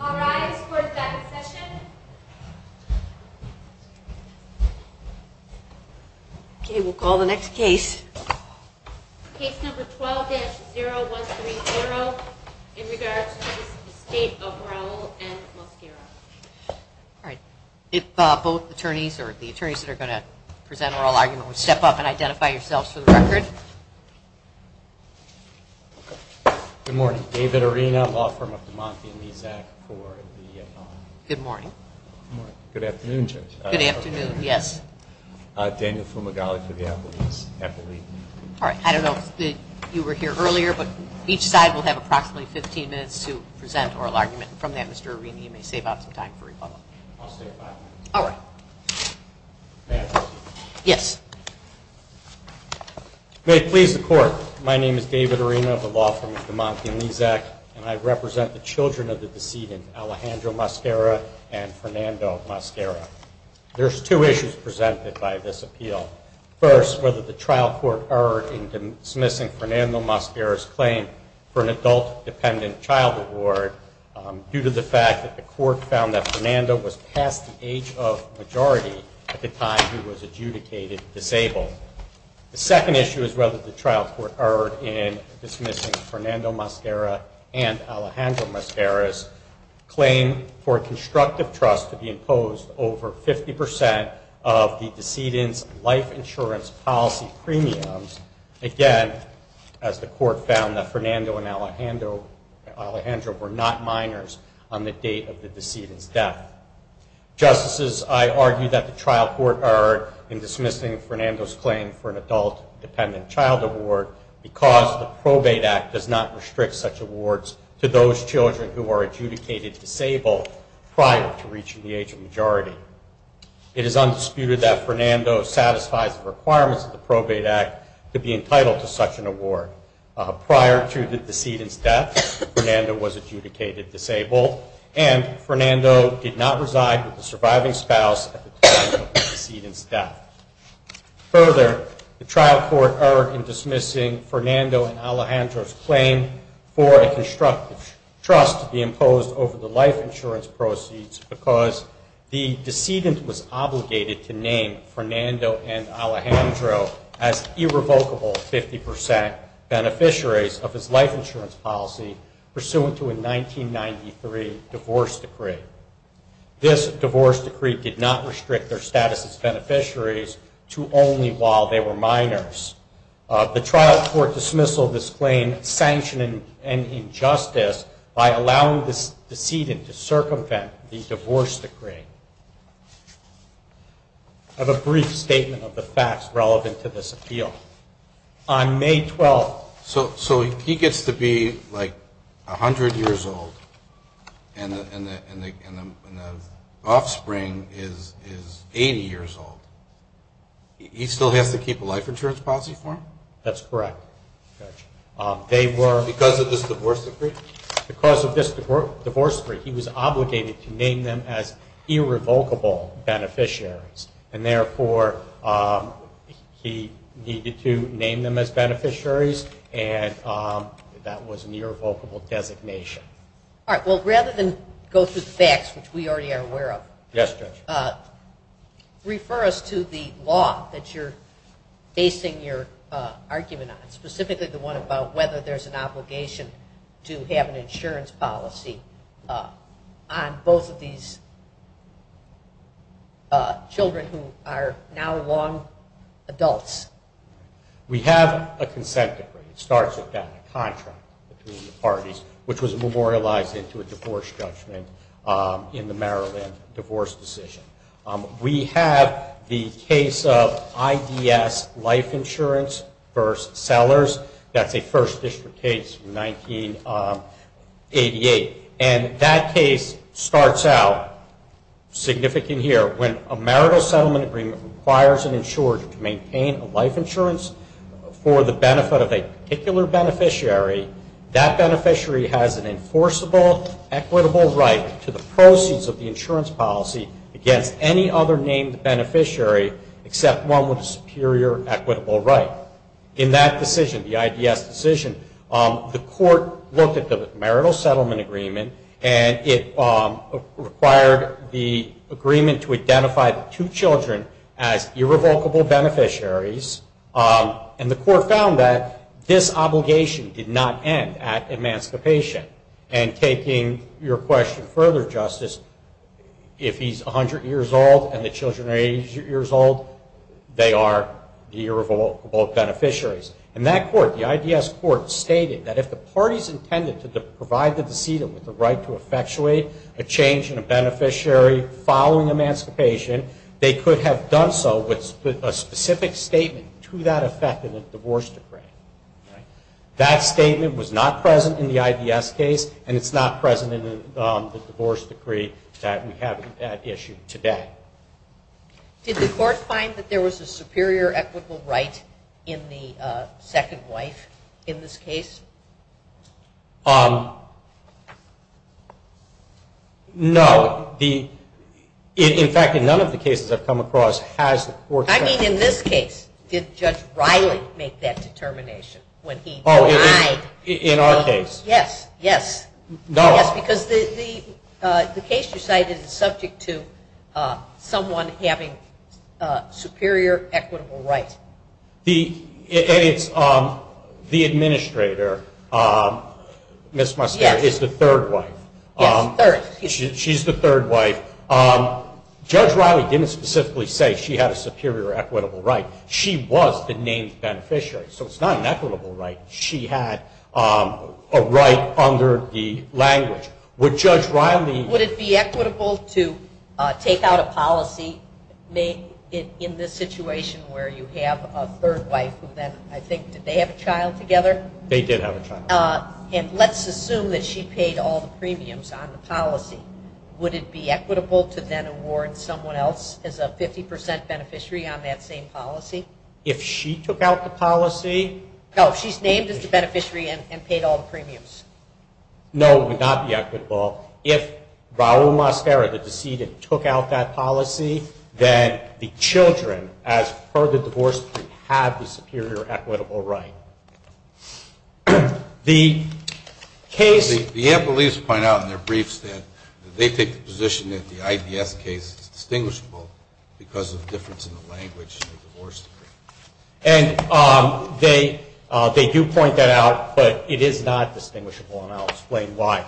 All right, court is back in session. Okay, we'll call the next case. Case number 12-0130 in regards to the Estate of Raul and Mosquera. Alright, if both attorneys or the attorneys that are going to present are all argument, step up and identify yourselves for the record. Good morning. David Arena, law firm of DeMonte and Lezak for the Good morning. Good afternoon, Judge. Good afternoon, yes. Daniel Fumagalli for the Appellate. Alright, I don't know if you were here earlier, but each side will have approximately 15 minutes to present oral argument. From that, Mr. Arena, you may save up some time for rebuttal. I'll stay five minutes. Alright. May I proceed? Yes. May it please the court, my name is David Arena of DeMonte and Lezak and I represent the children of the decedent Alejandro Mosquera and Fernando Mosquera. There's two issues presented by this appeal. First, whether the trial court erred in dismissing Fernando Mosquera's claim for an adult dependent child award due to the fact that the court found that Fernando was past the age of majority at the time he was adjudicated disabled. The second issue is whether the trial court erred in dismissing Fernando Mosquera and Alejandro Mosquera's claim for constructive trust to be imposed over 50% of the decedent's life insurance policy premiums. Again, as the court found that Fernando and Alejandro were not minors on the date of the decedent's death. Justices, I argue that the trial court erred in dismissing Fernando's claim for an adult dependent child award because the probate act does not restrict such awards to those children who are adjudicated disabled prior to reaching the age of majority. It is undisputed that Fernando satisfies the requirements of the probate act to be entitled to such an award. Prior to the decedent's death, Fernando was adjudicated disabled and Fernando did not reside with the surviving spouse at the time of the decedent's death. Further, the trial court erred in dismissing Fernando and Alejandro's claim for a constructive trust to be imposed over the life insurance proceeds because the decedent was obligated to name Fernando and Alejandro as irrevocable 50% beneficiaries of his life insurance policy pursuant to a 1993 divorce decree. This divorce decree did not restrict their status as beneficiaries to only while they were minors. The trial court dismissal this claim sanctioned an injustice by allowing the decedent to circumvent the divorce decree. I have a brief statement of the facts relevant to this appeal. So he gets to be like 100 years old and the decedent is 80 years old. He still has to keep a life insurance policy for him? That's correct. Because of this divorce decree? Because of this divorce decree he was obligated to name them as irrevocable beneficiaries and therefore he needed to name them as beneficiaries and that was an irrevocable designation. Alright, well rather than go through the facts which we already are aware of refer us to the law that you're basing your argument on, specifically the one about whether there's an obligation to have an insurance policy on both of these children who are now long adults. We have a consent decree. It starts with that contract between the parties which was memorialized into a divorce judgment in the Maryland divorce decision. We have the case of IDS life insurance versus sellers. That's a first district case from 1988. And that case starts out significant here. When a marital settlement agreement requires an insurer to maintain a life insurance for the benefit of a particular beneficiary, that beneficiary has an equal right to the proceeds of the insurance policy against any other named beneficiary except one with a superior equitable right. In that decision, the IDS decision, the court looked at the marital settlement agreement and it required the agreement to identify the two children as irrevocable beneficiaries and the court found that this obligation did not end at emancipation. And taking your question further, Justice, if he's 100 years old and the children are 80 years old, they are irrevocable beneficiaries. In that court, the IDS court stated that if the parties intended to provide the decedent with the right to effectuate a change in a beneficiary following emancipation, they could have done so with a specific statement to that effect in a divorce decree. That statement was not present in the IDS case and it's not present in the divorce decree that we have at issue today. Did the court find that there was a superior equitable right in the second wife in this case? No. In fact, in none of the cases I've come across has the court said that. I mean in this case, did Judge Riley make that determination when he denied? Yes, because the case you cited is subject to someone having superior equitable rights. The administrator is the third wife. She's the third wife. Judge Riley didn't specifically say she had a superior equitable right. She was the main beneficiary. So it's not an equitable right. She had a right under the language. Would Judge Riley Would it be equitable to take out a policy in this situation where you have a third wife who then I think did they have a child together? They did have a child. And let's assume that she paid all the premiums on the policy. Would it be equitable to then award someone else as a 50% beneficiary on that same policy? If she took out the policy? No, if she's named as the beneficiary and paid all the premiums. No, it would not be equitable. If Raul Mascara, the decedent, took out that policy, then the children, as per the divorce plea, have the superior equitable right. The case The ample leaves point out in their briefs that they take the position that the IDS case is distinguishable because of the difference in the language in the divorce decree. They do point that out, but it is not distinguishable and I'll explain why.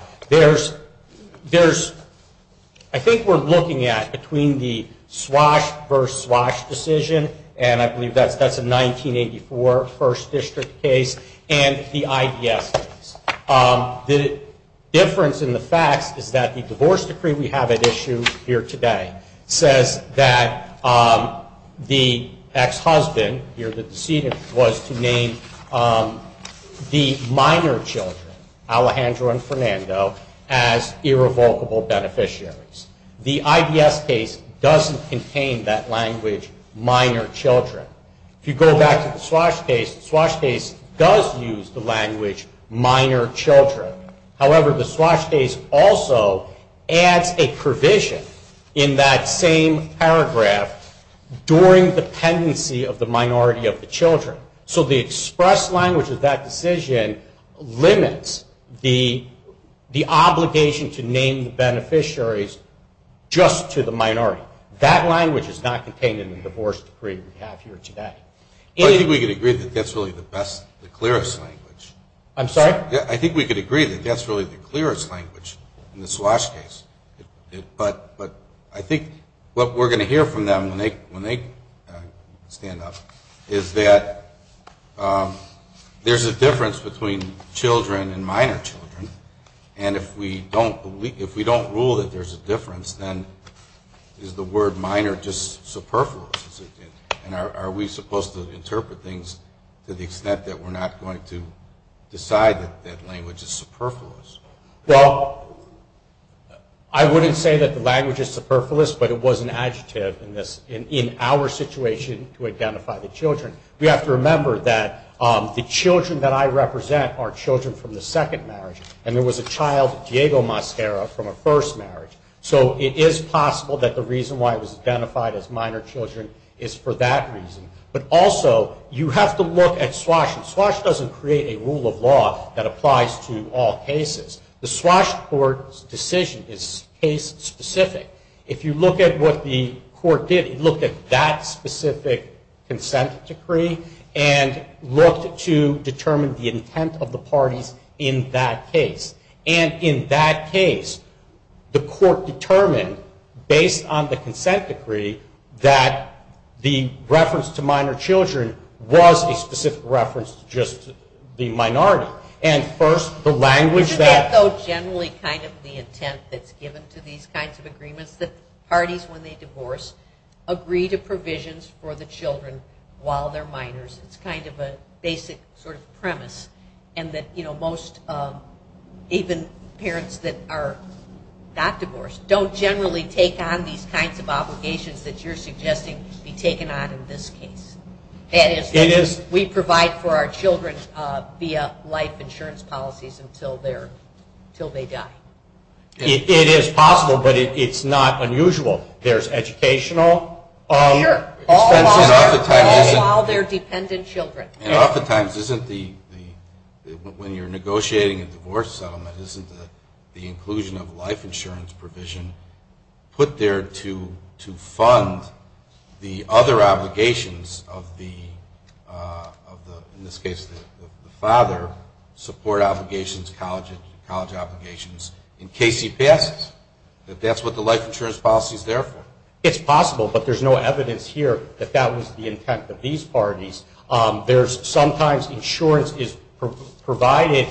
I think we're looking at between the Swash versus Swash decision, and I believe that's a 1984 First District case, and the IDS case. The difference in the facts is that the divorce decree we have at issue here today says that the ex-husband, here the decedent, was to name the minor children, Alejandro and Fernando, as irrevocable beneficiaries. The IDS case doesn't contain that language, minor children. If you go back to the Swash case, the Swash case does use the language minor children. However, the Swash case also adds a provision in that same paragraph during the pendency of the minority of the children. So the express language of that decision limits the obligation to name the beneficiaries just to the minority. That language is not contained in the divorce decree we have here today. I think we could agree that that's really the best, the clearest language. I'm sorry? I think we could agree that that's really the Swash case. But I think what we're going to hear from them when they stand up is that there's a difference between children and minor children, and if we don't rule that there's a difference, then is the word minor just superfluous? And are we supposed to interpret things to the extent that we're not going to decide that that language is superfluous? Well, I wouldn't say that the language is superfluous, but it was an adjective in our situation to identify the children. We have to remember that the children that I represent are children from the second marriage, and there was a child, Diego Mascara, from a first marriage. So it is possible that the reason why it was identified as minor children is for that reason. But also you have to look at Swash, and Swash doesn't create a rule of law that applies to all cases. The Swash court's decision is case specific. If you look at what the court did, it looked at that specific consent decree and looked to determine the intent of the parties in that case. And in that case, the court determined, based on the consent decree, that the reference to minor children was a specific reference to just the minority. Isn't that generally kind of the intent that's given to these kinds of agreements? That parties, when they divorce, agree to provisions for the children while they're minors. It's kind of a basic sort of premise. And that most, even parents that are not divorced, don't generally take on these kinds of obligations that you're suggesting be taken on in this case. That is, we provide for our children via life insurance policies until they die. It is possible, but it's not unusual. There's educational expenses for all their dependent children. And oftentimes isn't the, when you're negotiating a divorce settlement, isn't the inclusion of life insurance provision put there to fund the other obligations of the father, support obligations, college obligations, in case he passes? That that's what the life insurance policy is there for? It's possible, but there's no evidence here that that was the intent of these parties. There's sometimes insurance is provided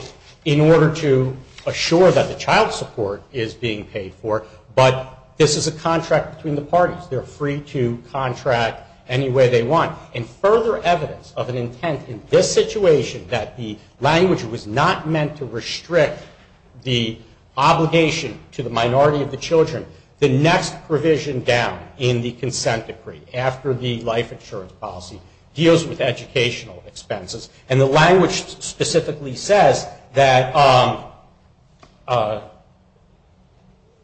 in order to assure that the child support is being paid for. But this is a contract between the parties. They're free to contract any way they want. And further evidence of an intent in this situation that the language was not meant to restrict the obligation to the minority of the children, the next provision down in the consent decree, after the life insurance policy, deals with educational expenses. And the language specifically says that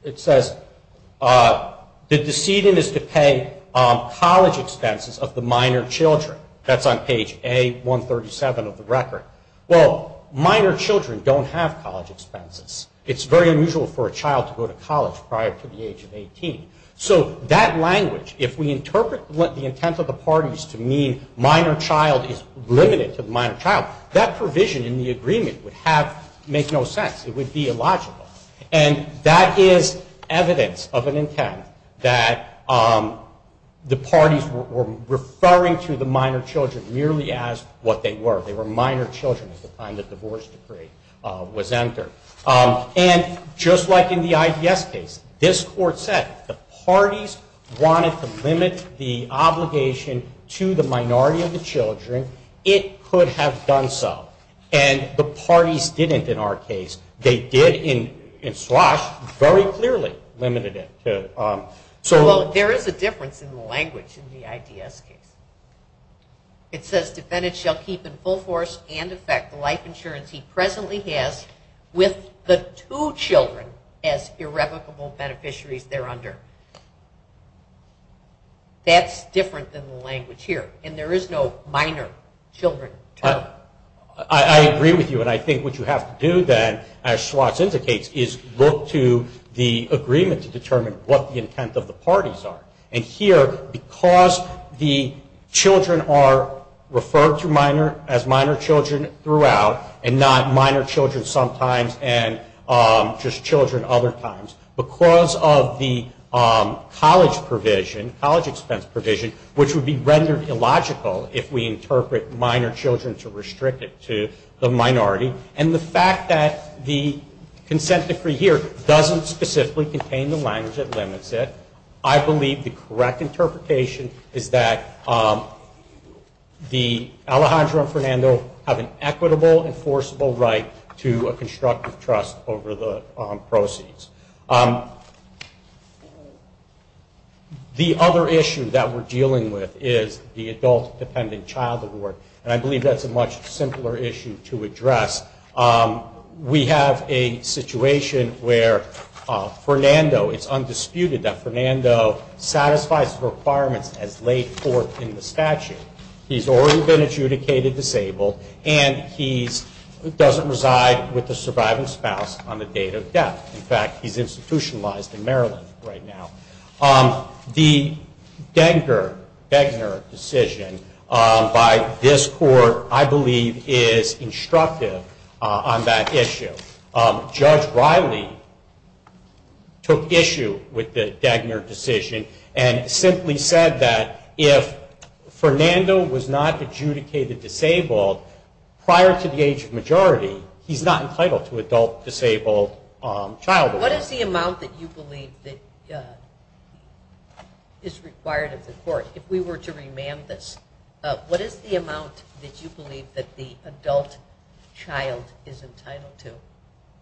it says the decision is to pay college expenses of the minor children. That's on page A137 of the record. Well, minor children don't have college expenses. It's very unusual for a child to go to college prior to the age of 18. So that language, if we interpret the intent of the parties to mean minor child is limited to the minor child, that provision in the agreement would have, make no sense. It would be illogical. And that is evidence of an intent that the parties were referring to the minor children merely as what they were. They were minor children at the time the divorce decree was entered. And just like in the IDS case, this court said if the parties wanted to limit the obligation to the minority of the children, it could have done so. And the parties didn't in our case. They did in SLOSH very clearly limited it. Well, there is a difference in the language in the IDS case. It says defendants shall keep in full force and effect the life insurance he presently has with the two children as irrevocable beneficiaries there under. That's different than the language here. And there is no minor children term. I agree with you. And I think what you have to do then as SLOSH indicates is look to the agreement to determine what the intent of the parties are. And here, because the children are referred to as minor children throughout and not minor children sometimes and just children other times, because of the college provision, college expense provision, which would be rendered illogical if we interpret minor children to restrict it to the minority. And the fact that the consent decree here doesn't specifically contain the language that limits it, I believe the correct interpretation is that the Alejandro and Fernando have an equitable enforceable right to a constructive trust over the proceeds. The other issue that we're dealing with is the adult-dependent child award. And I believe that's a much simpler issue to address. We have a situation where Fernando, it's undisputed that Fernando satisfies the requirements as laid forth in the statute. He's already been adjudicated disabled and he doesn't reside with the surviving spouse on the date of death. In fact, he's institutionalized in Maryland right now. The Degner decision by this court, I believe, is instructive on that issue. Judge Riley took issue with the Degner decision and simply said that if Fernando was not adjudicated disabled prior to the age of majority, he's not entitled to adult disabled child award. What is the amount that you believe is required of the court? If we were to remand this, what is the amount that you believe that the adult child is entitled to?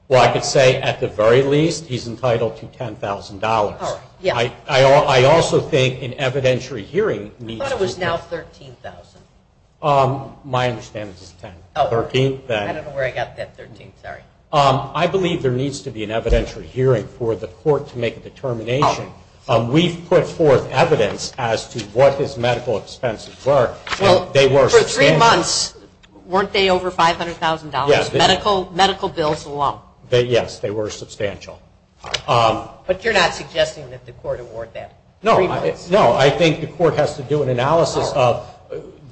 Well, I could say at the very least he's entitled to $10,000. I also think an evidentiary hearing needs to be... I thought it was now $13,000. My understanding is $10,000. I don't know where I got that $13,000. I believe there needs to be an evidentiary hearing for the court to make a determination. We've put forth evidence as to what his medical expenses were. For three months weren't they over $500,000, medical bills alone? Yes, they were substantial. But you're not suggesting that the court award that? No, I think the court has to do an analysis of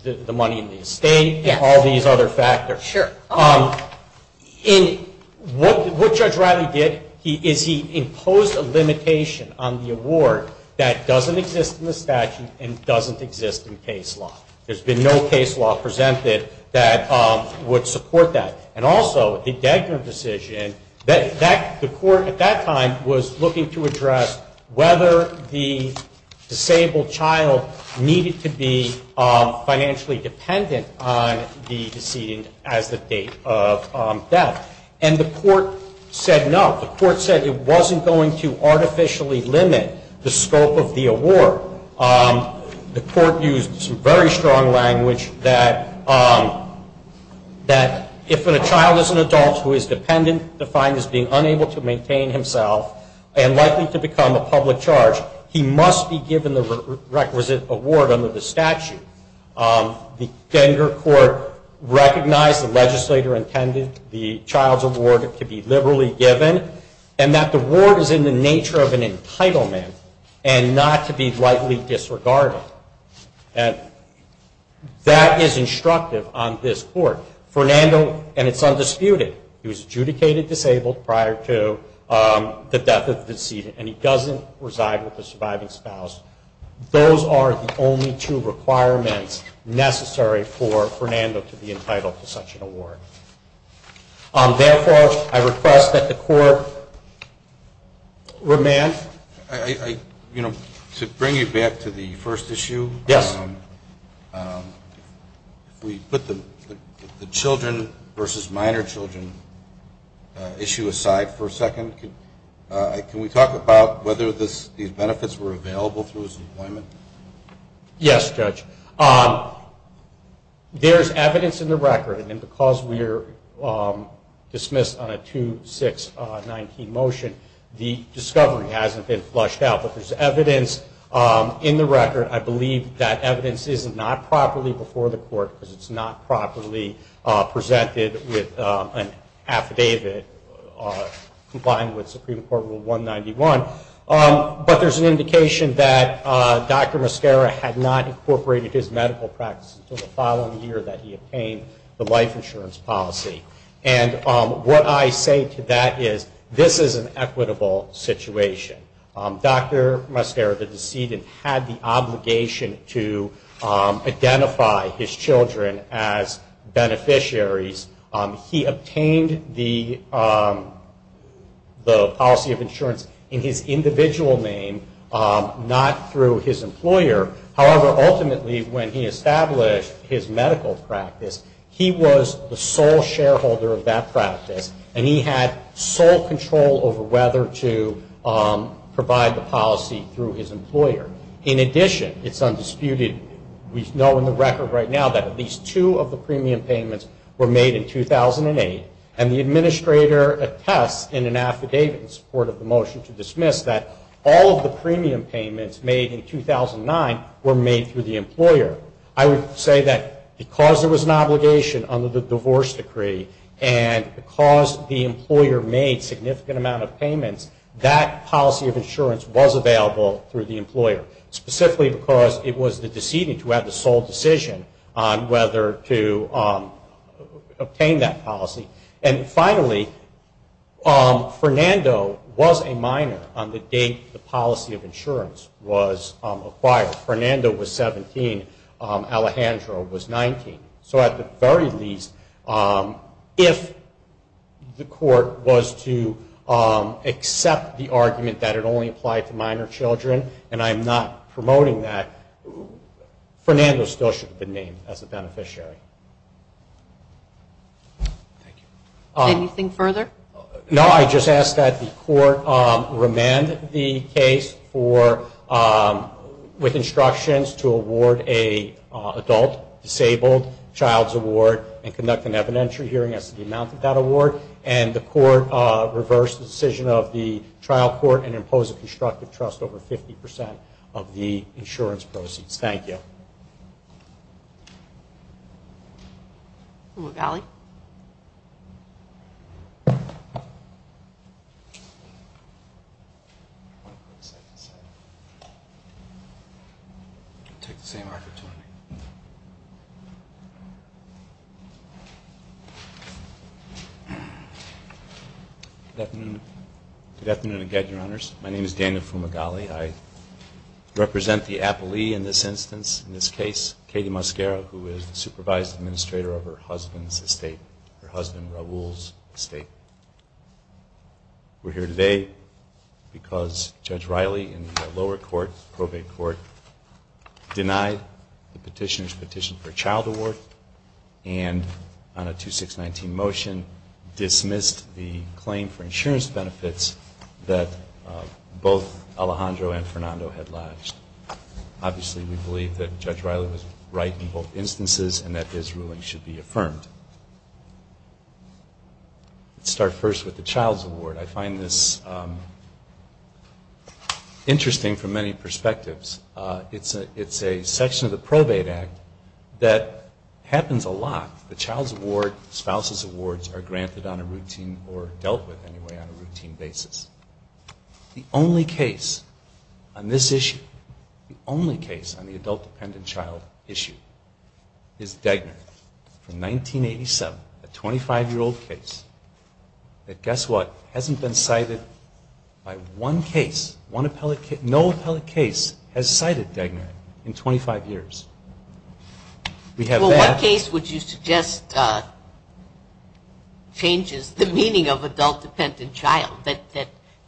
the money in the estate and all these other factors. Sure. What Judge Riley did is he imposed a limitation on the award that doesn't exist in the statute and doesn't exist in case law. There's been no case law presented that would support that. And also, the Degner decision, the court at that time was looking to address whether the disabled child needed to be financially dependent on the decedent as the date of death. And the court said no. The court said it wasn't going to artificially limit the scope of the award. The court used some very strong language that if a child is an adult who is dependent, defined as being unable to maintain himself and likely to become a public charge, he must be given the requisite award under the statute. The Degner court recognized the legislator intended the child's award to be liberally given and that the award is in the nature of an entitlement and not to be rightly disregarded. That is instructive on this court. Fernando, and it's undisputed, he was adjudicated disabled prior to the death of the decedent and he doesn't reside with the surviving spouse. Those are the only two requirements necessary for Fernando to be entitled to such an award. Therefore, I request that the court remand. To bring you back to the first issue, if we put the children versus minor children issue aside for a second, can we talk about whether these benefits were available through his employment? Yes, Judge. There's evidence in the record and because we're dismissed on a 2-6-19 motion, the discovery hasn't been flushed out. There's evidence in the record. I believe that evidence is not properly before the court because it's not properly presented with an affidavit complying with Supreme Court Rule 191, but there's an indication that Dr. Mascara had not incorporated his medical practices until the following year that he obtained the life insurance policy. What I say to that is this is an equitable situation. Dr. Mascara, the decedent, had the obligation to identify his children as beneficiaries. He obtained the policy of insurance in his individual name, not through his employer. However, ultimately, when he established his medical practice, he was the sole shareholder of that practice and he had sole control over whether to provide the policy through his employer. In addition, it's undisputed. We know in the record right now that at least two of the premium payments were made in 2008 and the administrator attests in an affidavit in support of the motion to dismiss that all of the premium payments made in 2009 were made through the employer. I would say that because there was an obligation under the divorce decree and because the employer made significant amount of payments, that policy of insurance was available through the employer, specifically because it was the decedent who had the sole decision on whether to obtain that insurance. Fernando was a minor on the date the policy of insurance was acquired. Fernando was 17. Alejandro was 19. So at the very least, if the court was to accept the argument that it only applied to minor children and I'm not promoting that, Fernando still should have been named as a beneficiary. Anything further? No, I just ask that the court remand the case with instructions to award an adult disabled child's award and conduct an evidentiary hearing as to the amount of that award and the court reverse the decision of the trial court and impose a constructive trust over 50% of the insurance proceeds. Thank you. Fumagalli. Good afternoon again, Your Honors. My name is Daniel Fumagalli. I represent the appellee in this instance, in this case, Katie Mosquera, who is the supervised administrator of her husband's estate, her husband Raul's estate. We're here today because Judge Riley in the lower court, probate court, denied the petitioner's petition for a child award and on a 2619 motion dismissed the claim for insurance benefits that both Alejandro and Fernando had lodged. Obviously, we believe that Judge Riley was right in both instances and that his ruling should be affirmed. Let's start first with the child's award. I find this interesting from many perspectives. It's a section of the Probate Act that happens a lot. The child's award, spouse's awards, are granted on a routine or dealt with, anyway, on a routine basis. The only case on this issue, the only case on the adult-dependent child issue is Degner from 1987, a 25-year-old case that, guess what, hasn't been cited by one case, one appellate case, no appellate case has cited Degner in 25 years. Well, what case would you suggest changes the meaning of adult-dependent child that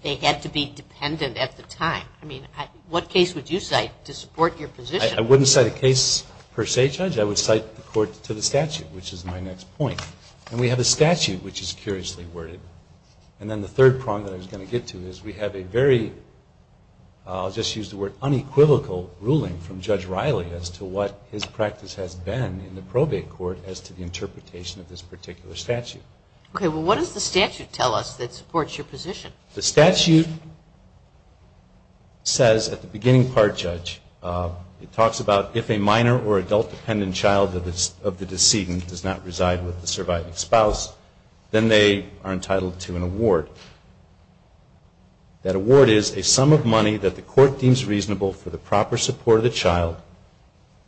they had to be dependent at the time? I mean, what case would you cite to support your position? I wouldn't cite a case per se, Judge. I would cite the court to the statute, which is my next point. And we have a statute which is curiously worded. And then the third prong that I was going to get to is we have a very, I'll just use the word, unequivocal ruling from Judge Riley as to what his practice has been in the probate court as to the interpretation of this particular statute. Okay, well, what does the statute tell us that supports your position? The statute says at the beginning part, Judge, it talks about if a minor or adult-dependent child of the decedent does not reside with the surviving spouse, then they are entitled to an award. That award is a sum of money that the court deems reasonable for the proper support of the child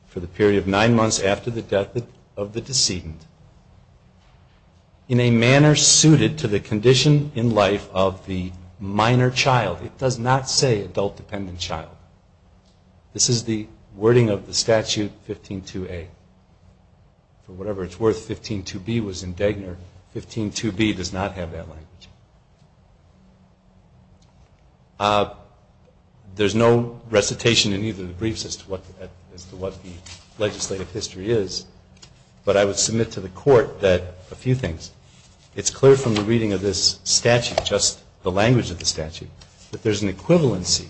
for the period of nine months after the death of the decedent in a manner suited to the condition in life of the minor child. It does not say adult-dependent child. This is the wording of the statute 15-2A. For whatever it's worth, 15-2B was indignant. 15-2B does not have that language. There's no recitation in either of the briefs as to what the legislative history is, but I would submit to the court that a few things. It's clear from the reading of this statute, just the language of the statute, that there's an equivalency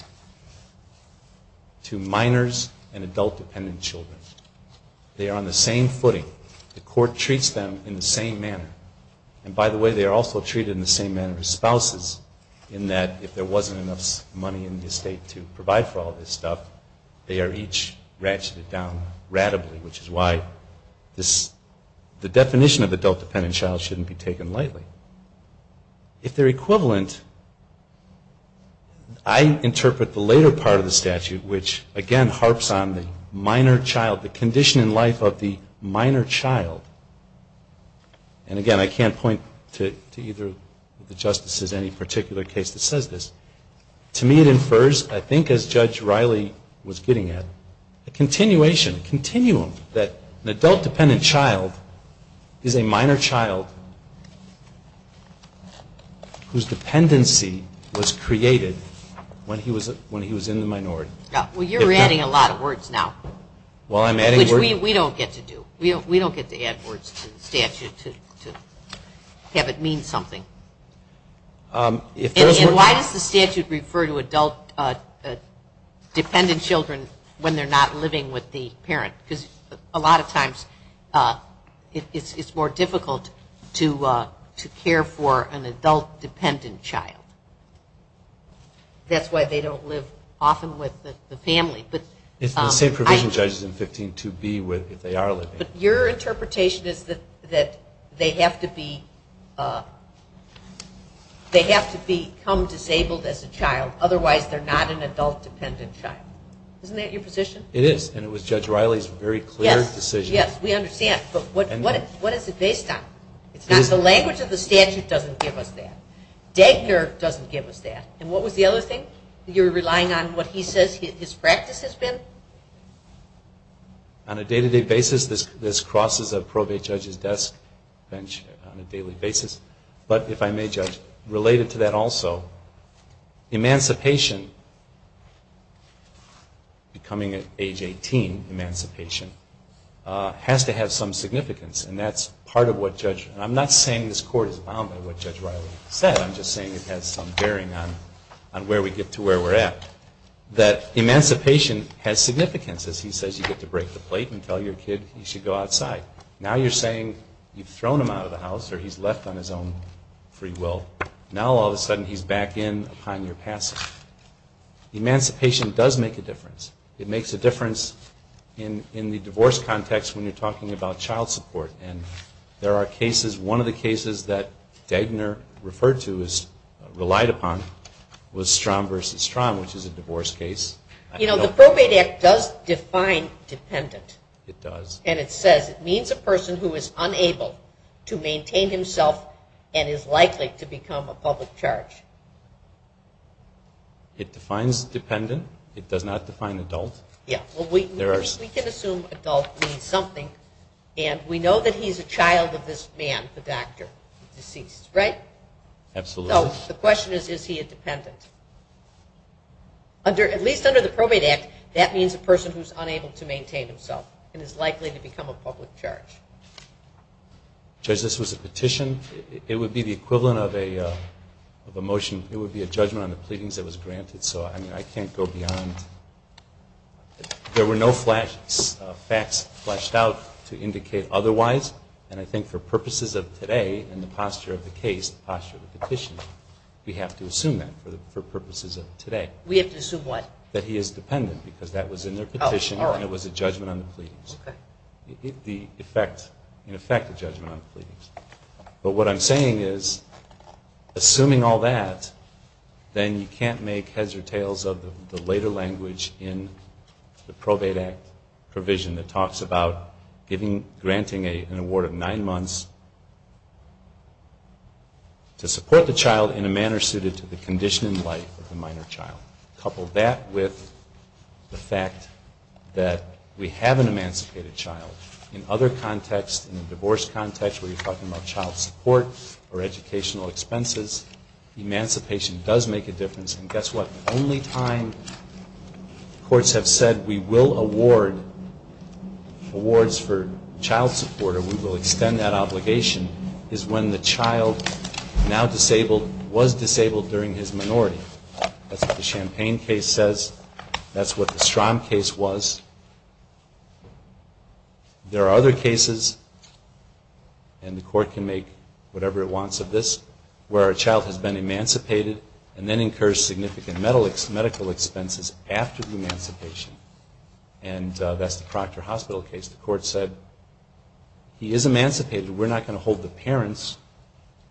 to minors and adult-dependent children. They are on the same footing. The court treats them in the same manner. And by the way, they are also treated in the same manner as spouses in that if there wasn't enough money in the estate to provide for all this stuff, they are each ratcheted down radibly, which is why the definition of adult-dependent child shouldn't be taken lightly. If they're equivalent, I interpret the later part of the statute, which again harps on the minor child, the condition in life of the minor child. And again, I can't point to either of the Justices in any particular case that says this. To me it infers, I think as Judge Riley was getting at, a continuation, a continuum that an adult-dependent child is a minor child whose dependency was created when he was in the minority. Well, you're adding a lot of words now, which we don't get to do. We don't get to add words to the statute to have it mean something. And why does the statute refer to adult- dependent children when they're not living with the parent? Because a lot of times it's more difficult to care for an adult-dependent child. That's why they don't live often with the family. It's the same provision, Judges, in 15.2b if they are living. But your interpretation is that they have to be come disabled as a child, otherwise they're not an adult-dependent child. Isn't that your position? It is, and it was Judge Riley's very clear decision. What is it based on? The language of the statute doesn't give us that. Dagner doesn't give us that. And what was the other thing? You're relying on what he says his practice has been? On a day-to-day basis, this crosses a probate judge's desk on a daily basis. But if I may, Judge, related to that also, emancipation becoming at age 18, emancipation, has to have some significance. And that's part of what Judge, and I'm not saying this court is bound by what Judge Riley said, I'm just saying it has some bearing on where we get to where we're at. That emancipation has significance. As he says, you get to break the plate and tell your kid he should go outside. Now you're saying you've thrown him out of the house or he's left on his own free will. Now all of a sudden he's back in upon your passing. Emancipation does make a difference. It makes a difference in the divorce context when you're talking about child support. And there are cases, one of the cases that Dagner referred to, relied upon, was Strom v. Strom, which is a divorce case. You know, the Probate Act does define dependent. It does. And it says it means a person who is unable to maintain himself and is likely to become a public charge. It defines dependent. It does not define adult. Yeah, well we can assume adult means something. And we know that he's a child of this man, the doctor, deceased, right? Absolutely. So the question is, is he a dependent? At least under the Probate Act that means a person who's unable to maintain himself and is likely to become a public charge. Judge, this was a petition. It would be the equivalent of a motion. It would be a judgment on the pleadings that was granted. So I mean, I can't go beyond. There were no facts fleshed out to indicate otherwise. And I think for purposes of today and the posture of the case, the posture of the petition, we have to assume that for purposes of today. We have to assume what? That he is dependent because that was in their petition and it was a judgment on the pleadings. Okay. In effect, a judgment on the pleadings. But what I'm saying is, assuming all that, then you can't make heads or tails of the later language in the Probate Act provision that talks about granting an award of nine months to support the child in a manner suited to the condition and life of the minor child. Couple that with the fact that we have an emancipated child. In other contexts, in a divorce context where you're talking about child support or educational expenses, emancipation does make a difference. And guess what? The only time courts have said we will award awards for child support or we will extend that obligation is when the child now disabled, was disabled during his minority. That's what the Champaign case says. That's what the Champaign case says. There are other cases and the court can make whatever it wants of this, where a child has been emancipated and then incurs significant medical expenses after the emancipation. And that's the Proctor Hospital case. The court said he is emancipated. We're not going to hold the parents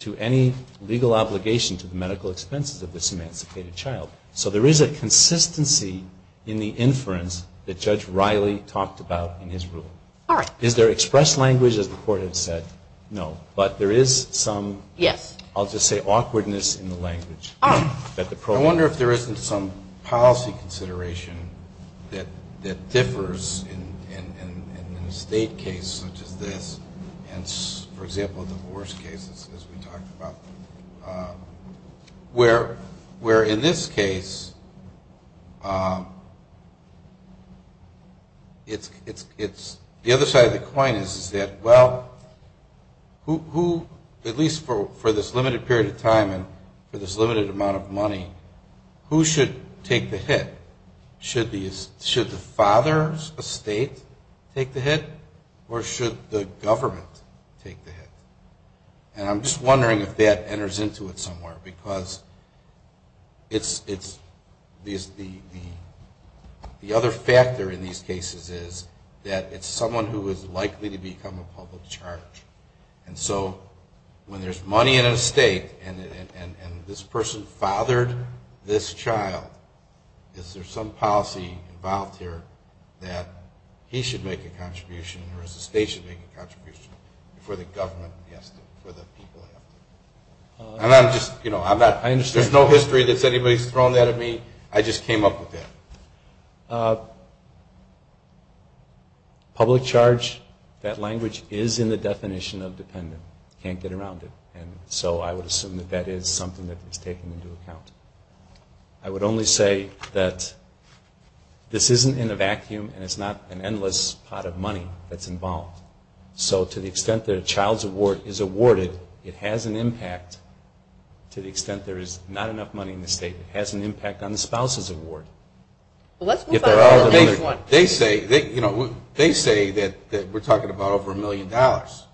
to any legal obligation to the medical expenses of this emancipated child. So there is a consistency in the language that we talked about in his rule. Is there express language as the court has said? No. But there is some, I'll just say, awkwardness in the language. I wonder if there isn't some policy consideration that differs in a state case such as this and, for example, divorce cases as we talked about. Where in this case it's, the other side of the coin is that, well, who, at least for this limited period of time and for this limited amount of money, who should take the hit? Should the father's estate take the hit or should the government take the hit? And I'm just wondering if that enters into it somewhere because it's, the other factor in these cases is that it's someone who is likely to become a public charge. And so when there's money in an estate and this person fathered this child, is there some policy involved here that he should make a contribution or the state should make a contribution before the government has to, before the people have to? And I'm just, you know, I'm not, there's no history that anybody's thrown that at me. I just came up with that. Public charge, that language is in the definition of dependent. Can't get around it. And so I would assume that that is something that is taken into account. I would only say that this isn't in a vacuum and it's not an endless pot of money that's involved. So to the extent that a child's award is awarded, it has an impact. To the extent there is not enough money in the state, it has an impact on the spouse's award. Let's move on to the next one. They say, you know, they say that we're talking about over a million dollars.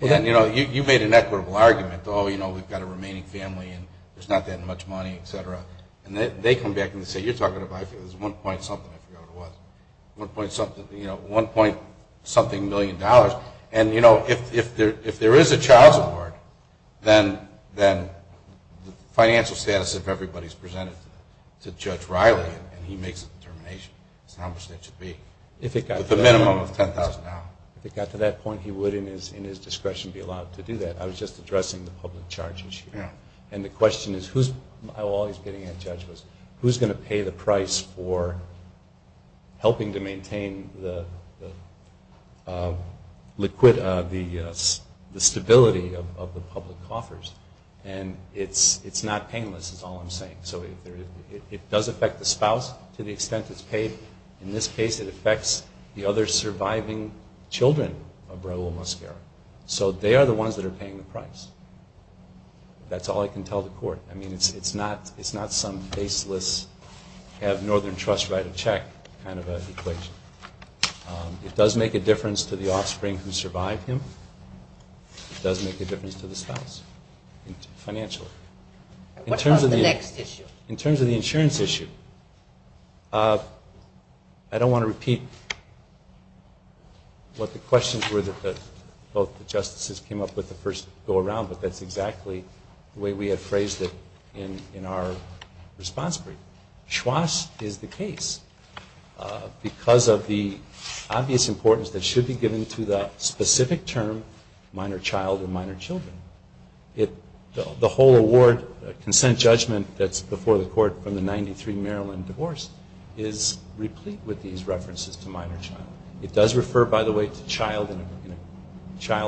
And, you know, you made an equitable argument. Oh, you know, we've got a remaining family and there's not that much money, et cetera. And they come back and say, you're talking about, I think it was one point something, I forget what it was, one point something, you know, one point something million dollars. And, you know, if there is a child's award, then the financial status of everybody is presented to Judge Riley and he makes a determination as to how much that should be. If it got to the minimum of $10,000. If it got to that point, he would, in his discretion, be allowed to do that. I was just addressing the public charges here. And the question is, who's, all he's getting at, Judge, is who's going to pay the price for helping to maintain the liquidity, the stability of the public coffers. And it's not painless, is all I'm saying. It does affect the spouse to the extent it's paid. In this case, it affects the other surviving children of Raul Mosquera. So they are the ones that are paying the price. That's all I can tell the court. I mean, it's not some baseless have Northern Trust write a check kind of an equation. It does make a difference to the offspring who survive him. It does make a difference to the spouse, financially. In terms of the insurance issue, I don't want to repeat what the questions were that both the Justices came up with the first go around, but that's exactly the way we have phrased it in our response brief. Schwoz is the case. Because of the obvious importance that should be given to that specific term, minor child or minor children. The whole award consent judgment that's before the court from the 93 Maryland divorce is replete with these references to minor child. It does refer, by the way, to child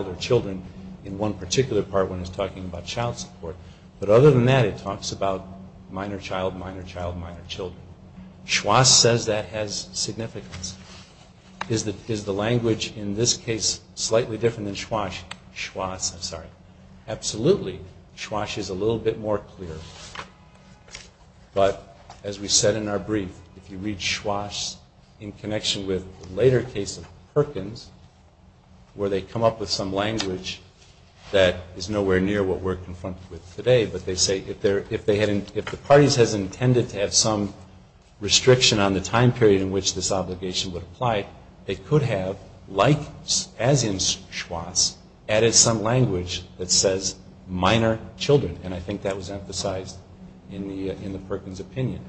or children in one particular part when it's talking about child support. But other than that, it talks about minor child, minor child, minor children. Schwoz says that has significance. Is the language in this case slightly different than Schwoz? Schwoz, I'm sorry. Absolutely. Schwoz is a little bit more clear. But as we said in our brief, if you read Schwoz in connection with the later case of Perkins, where they come up with some language that is nowhere near what we're confronted with today, but they say if they had, if the parties has intended to have some restriction on the time period in which this obligation would apply, they could have, like as in Schwoz, added some language that says minor children. And I think that was emphasized in the Perkins opinion.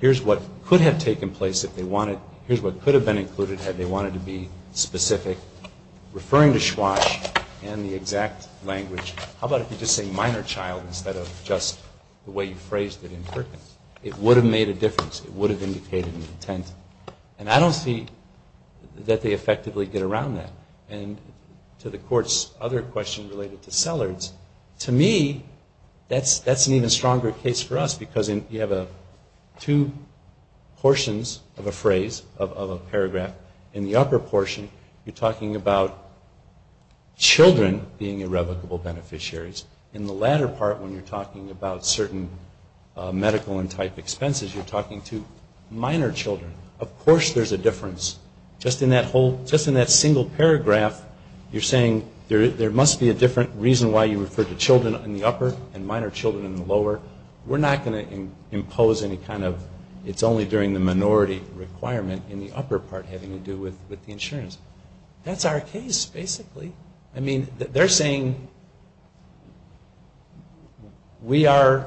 Here's what could have taken place if they wanted, here's what could have been included had they wanted to be specific, referring to Schwoz and the exact language. How about if you just say minor child instead of just the way you phrased it in Perkins? It would have made a difference. It would have indicated an intent. And I don't see that they effectively get around that. And to the Court's other question related to Sellards, to me, that's an even stronger case for us because you have two portions of a phrase, of a paragraph. In the upper portion you're talking about children being irrevocable beneficiaries. In the latter part when you're talking about certain medical and type expenses, you're talking to minor children. Of course there's a difference. Just in that whole, just in that single paragraph you're saying there must be a different reason why you refer to children in the upper and minor children in the lower. We're not going to impose any kind of, it's only during the minority requirement in the upper part having to do with the insurance. That's our case, basically. I mean, they're saying we are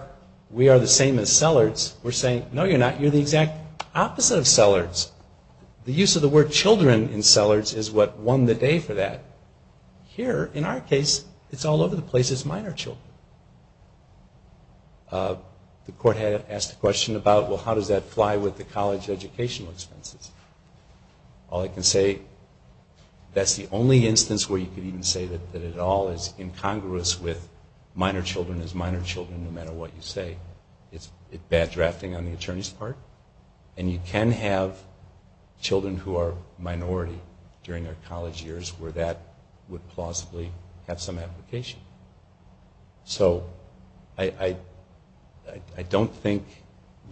the same as Sellards. We're saying, no you're not. You're the exact opposite of Sellards. The use of the word children in Sellards is what won the day for that. Here, in our case, it's all over the place as minor children. The Court had asked a question about, well, how does that fly with the college educational expenses? All I can say that's the only instance where you could even say that it all is incongruous with minor children as minor children no matter what you say. It's bad drafting on the attorney's part. And you can have children who are minority during their college years where that would plausibly have some application. So, I don't think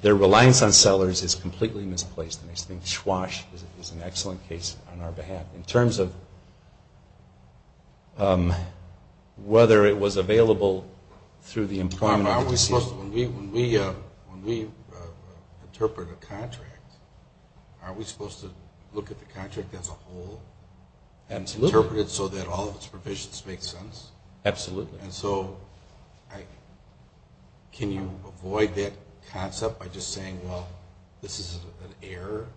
their reliance on Sellards is completely misplaced. I think that's a good question on our behalf. In terms of whether it was available through the employment decision. When we interpret a contract, are we supposed to look at the contract as a whole? Absolutely. And interpret it so that all of its provisions make sense? Absolutely. And so, can you avoid that concept by just saying, well, this is an error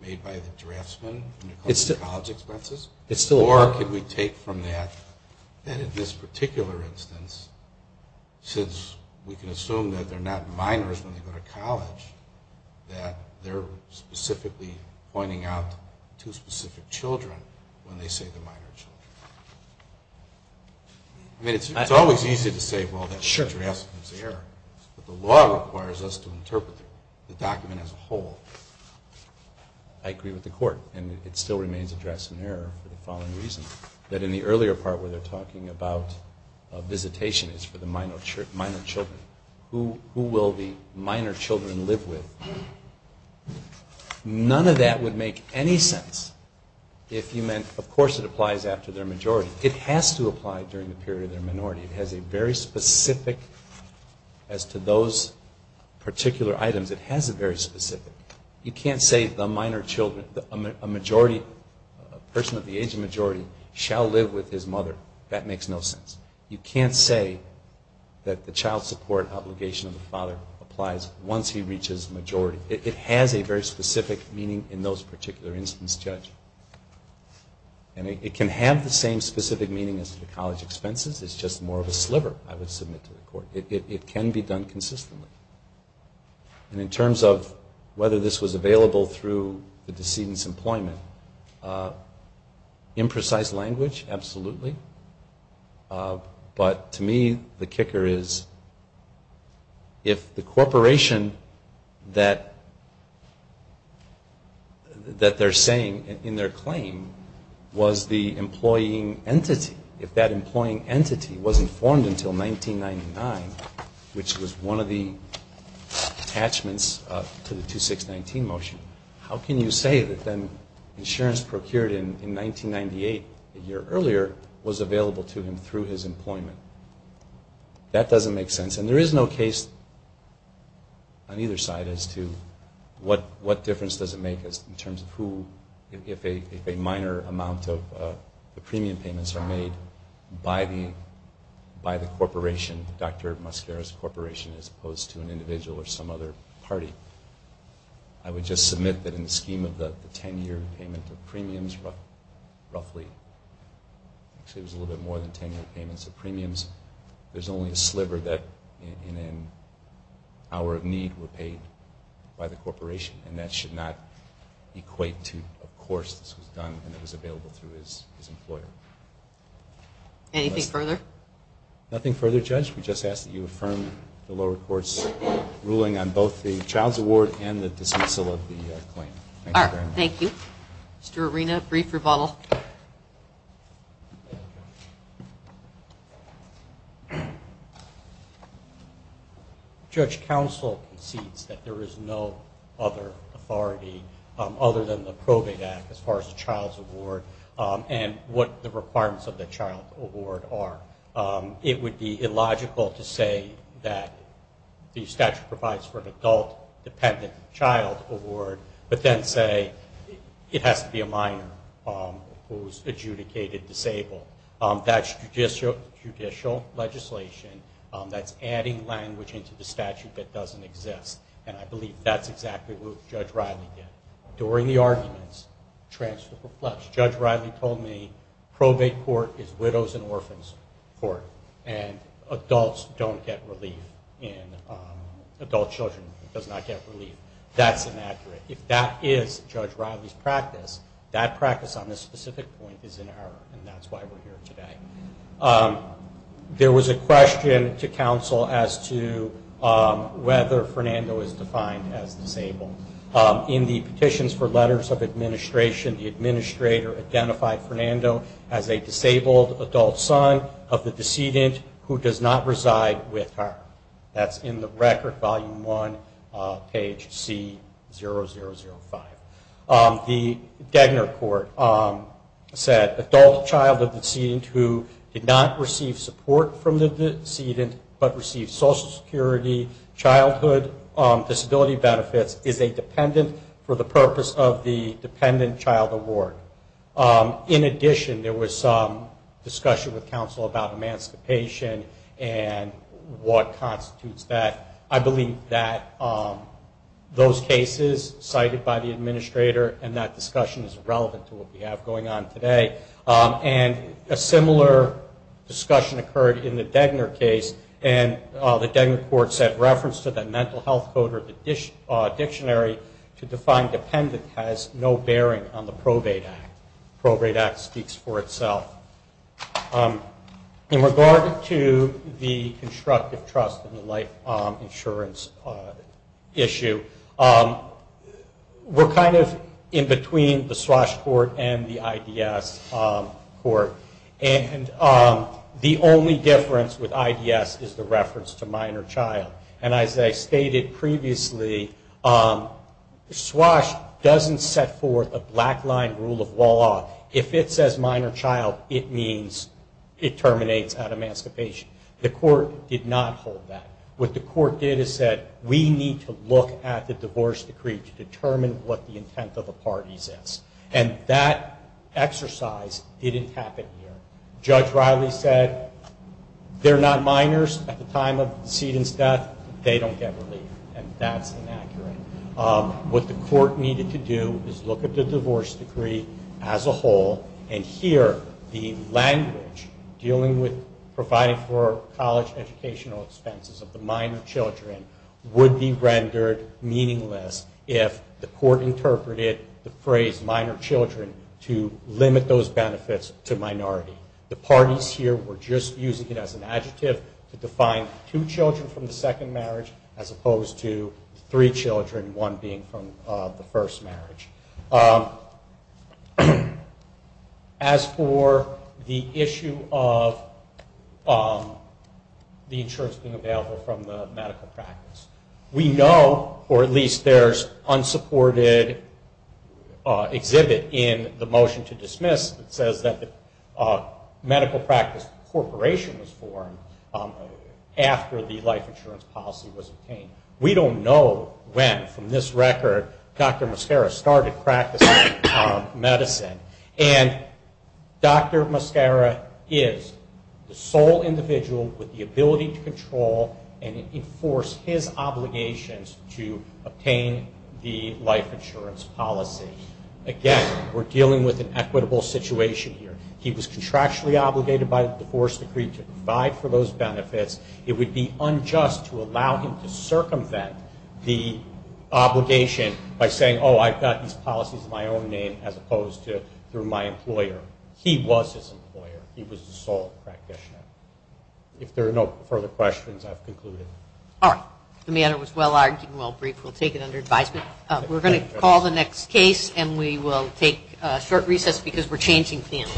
made by the draftsman when it comes to college expenses? Or can we take from that, that in this particular instance, since we can assume that they're not minors when they go to college, that they're specifically pointing out two specific children when they say they're minor children? I mean, it's always easy to say, well, that's the draftsman's error. But the law requires us to interpret the document as a whole. I agree with the Court. And it still remains a draftsman error for the following reason. That in the earlier part where they're talking about visitation is for the minor children. Who will the minor children live with? None of that would make any sense if you meant of course it applies after their majority. It has to apply during the period of their minority. It has a very specific, as to those particular items, it has a very specific. You can't say the minor children, a majority, a person of the age of majority shall live with his mother. That makes no sense. You can't say that the child support obligation of the father applies once he reaches majority. It has a very specific meaning in those particular instance judged. And it can have the same specific meaning as to the college expenses. It's just more of a sliver, I would submit to the Court. It can be done consistently. And in terms of whether this was available through the decedent's employment imprecise language, absolutely. But to me the kicker is if the corporation that that they're saying in their claim was the employing entity, if that employing entity wasn't formed until 1999, which was one of the attachments to the 2619 motion, how can you say that then insurance procured in 1998 a year earlier was available to him through his employment? That doesn't make sense. And there is no case on either side as to what difference does it make in terms of who if a minor amount of the premium payments are made by the corporation, Dr. Mosquera's corporation as opposed to an individual or some other party. I would just submit that in the scheme of the 10 year payment of premiums, roughly, actually it was a little bit more than 10 year payments of premiums, there's only a sliver that in an hour of need were paid by the corporation. And that should not equate to, of course this was done and it was available through his employer. Anything further? Nothing further, Judge. We just ask that you affirm the lower court's ruling on both the child's award and the dismissal of the claim. Alright, thank you. Mr. Arena, brief rebuttal. Judge, counsel concedes that there is no other authority other than the probate act as far as the child's award and what the requirements of the child's award are. It would be illogical to say that the statute provides for an adult dependent child award, but then say it has to be a minor who is adjudicated disabled. That's judicial legislation that's adding language into the statute that doesn't exist. And I believe that's exactly what Judge Riley did. During the arguments transfer perplexed. Judge Riley told me probate court is widows and orphans court and adults don't get relief in adult children, does not get relief. That's inaccurate. If that is Judge Riley's practice, that practice on this specific point is in error and that's why we're here today. There was a question to counsel as to whether Fernando is defined as disabled. In the petitions for letters of administration, the administrator identified Fernando as a disabled adult son of the decedent who does not reside with her. That's in the record, volume one, page C0005. The Degner court said adult child but receive social security, childhood, disability benefits is a dependent for the purpose of the dependent child award. In addition, there was some discussion with counsel about emancipation and what constitutes that. I believe that those cases cited by the administrator and that discussion is relevant to what we have going on today. And a similar discussion occurred in the Degner case and the Degner court said reference to the mental health code or the dictionary to define dependent has no bearing on the probate act. The probate act speaks for itself. In regard to the constructive trust in the life insurance issue, we're kind of in between the Swash court and the IDS court and the only difference with IDS is the reference to minor child. And as I stated previously, Swash doesn't set forth a black line rule of law. If it says minor child, it means it terminates out of emancipation. The court did not hold that. What the court did is said we need to look at the divorce decree to determine what the intent of the parties is. And that exercise didn't happen here. Judge Riley said they're not minors at the time of the decedent's death, they don't get relief. And that's inaccurate. What the court needed to do is look at the divorce decree as a whole and hear the language dealing with providing for college educational expenses of the minor children would be rendered meaningless if the court interpreted the phrase minor children to limit those benefits to minority. The parties here were just using it as an adjective to define two children from the second marriage as opposed to three children, one being from the first marriage. As for the issue of the insurance being available from the medical practice, we know, or at least there's an unsupported exhibit in the motion to dismiss that says that the medical practice corporation was formed after the life insurance policy was obtained. We don't know when from this record Dr. Mascara started practicing medicine. And Dr. Mascara is the sole individual with the ability to control and enforce his obligations to obtain the life insurance policy. Again, we're dealing with an equitable situation here. He was contractually obligated by the divorce decree to provide for those benefits. It would be unjust to allow him to circumvent the obligation by saying, oh, I've got these policies in my own name as opposed to through my employer. He was his employer. He was his sole practitioner. If there are no further questions, I've concluded. All right. The matter was well-argued and well-briefed. We'll take it under advisement. We're going to call the next case, and we will take a short recess because we're changing themes.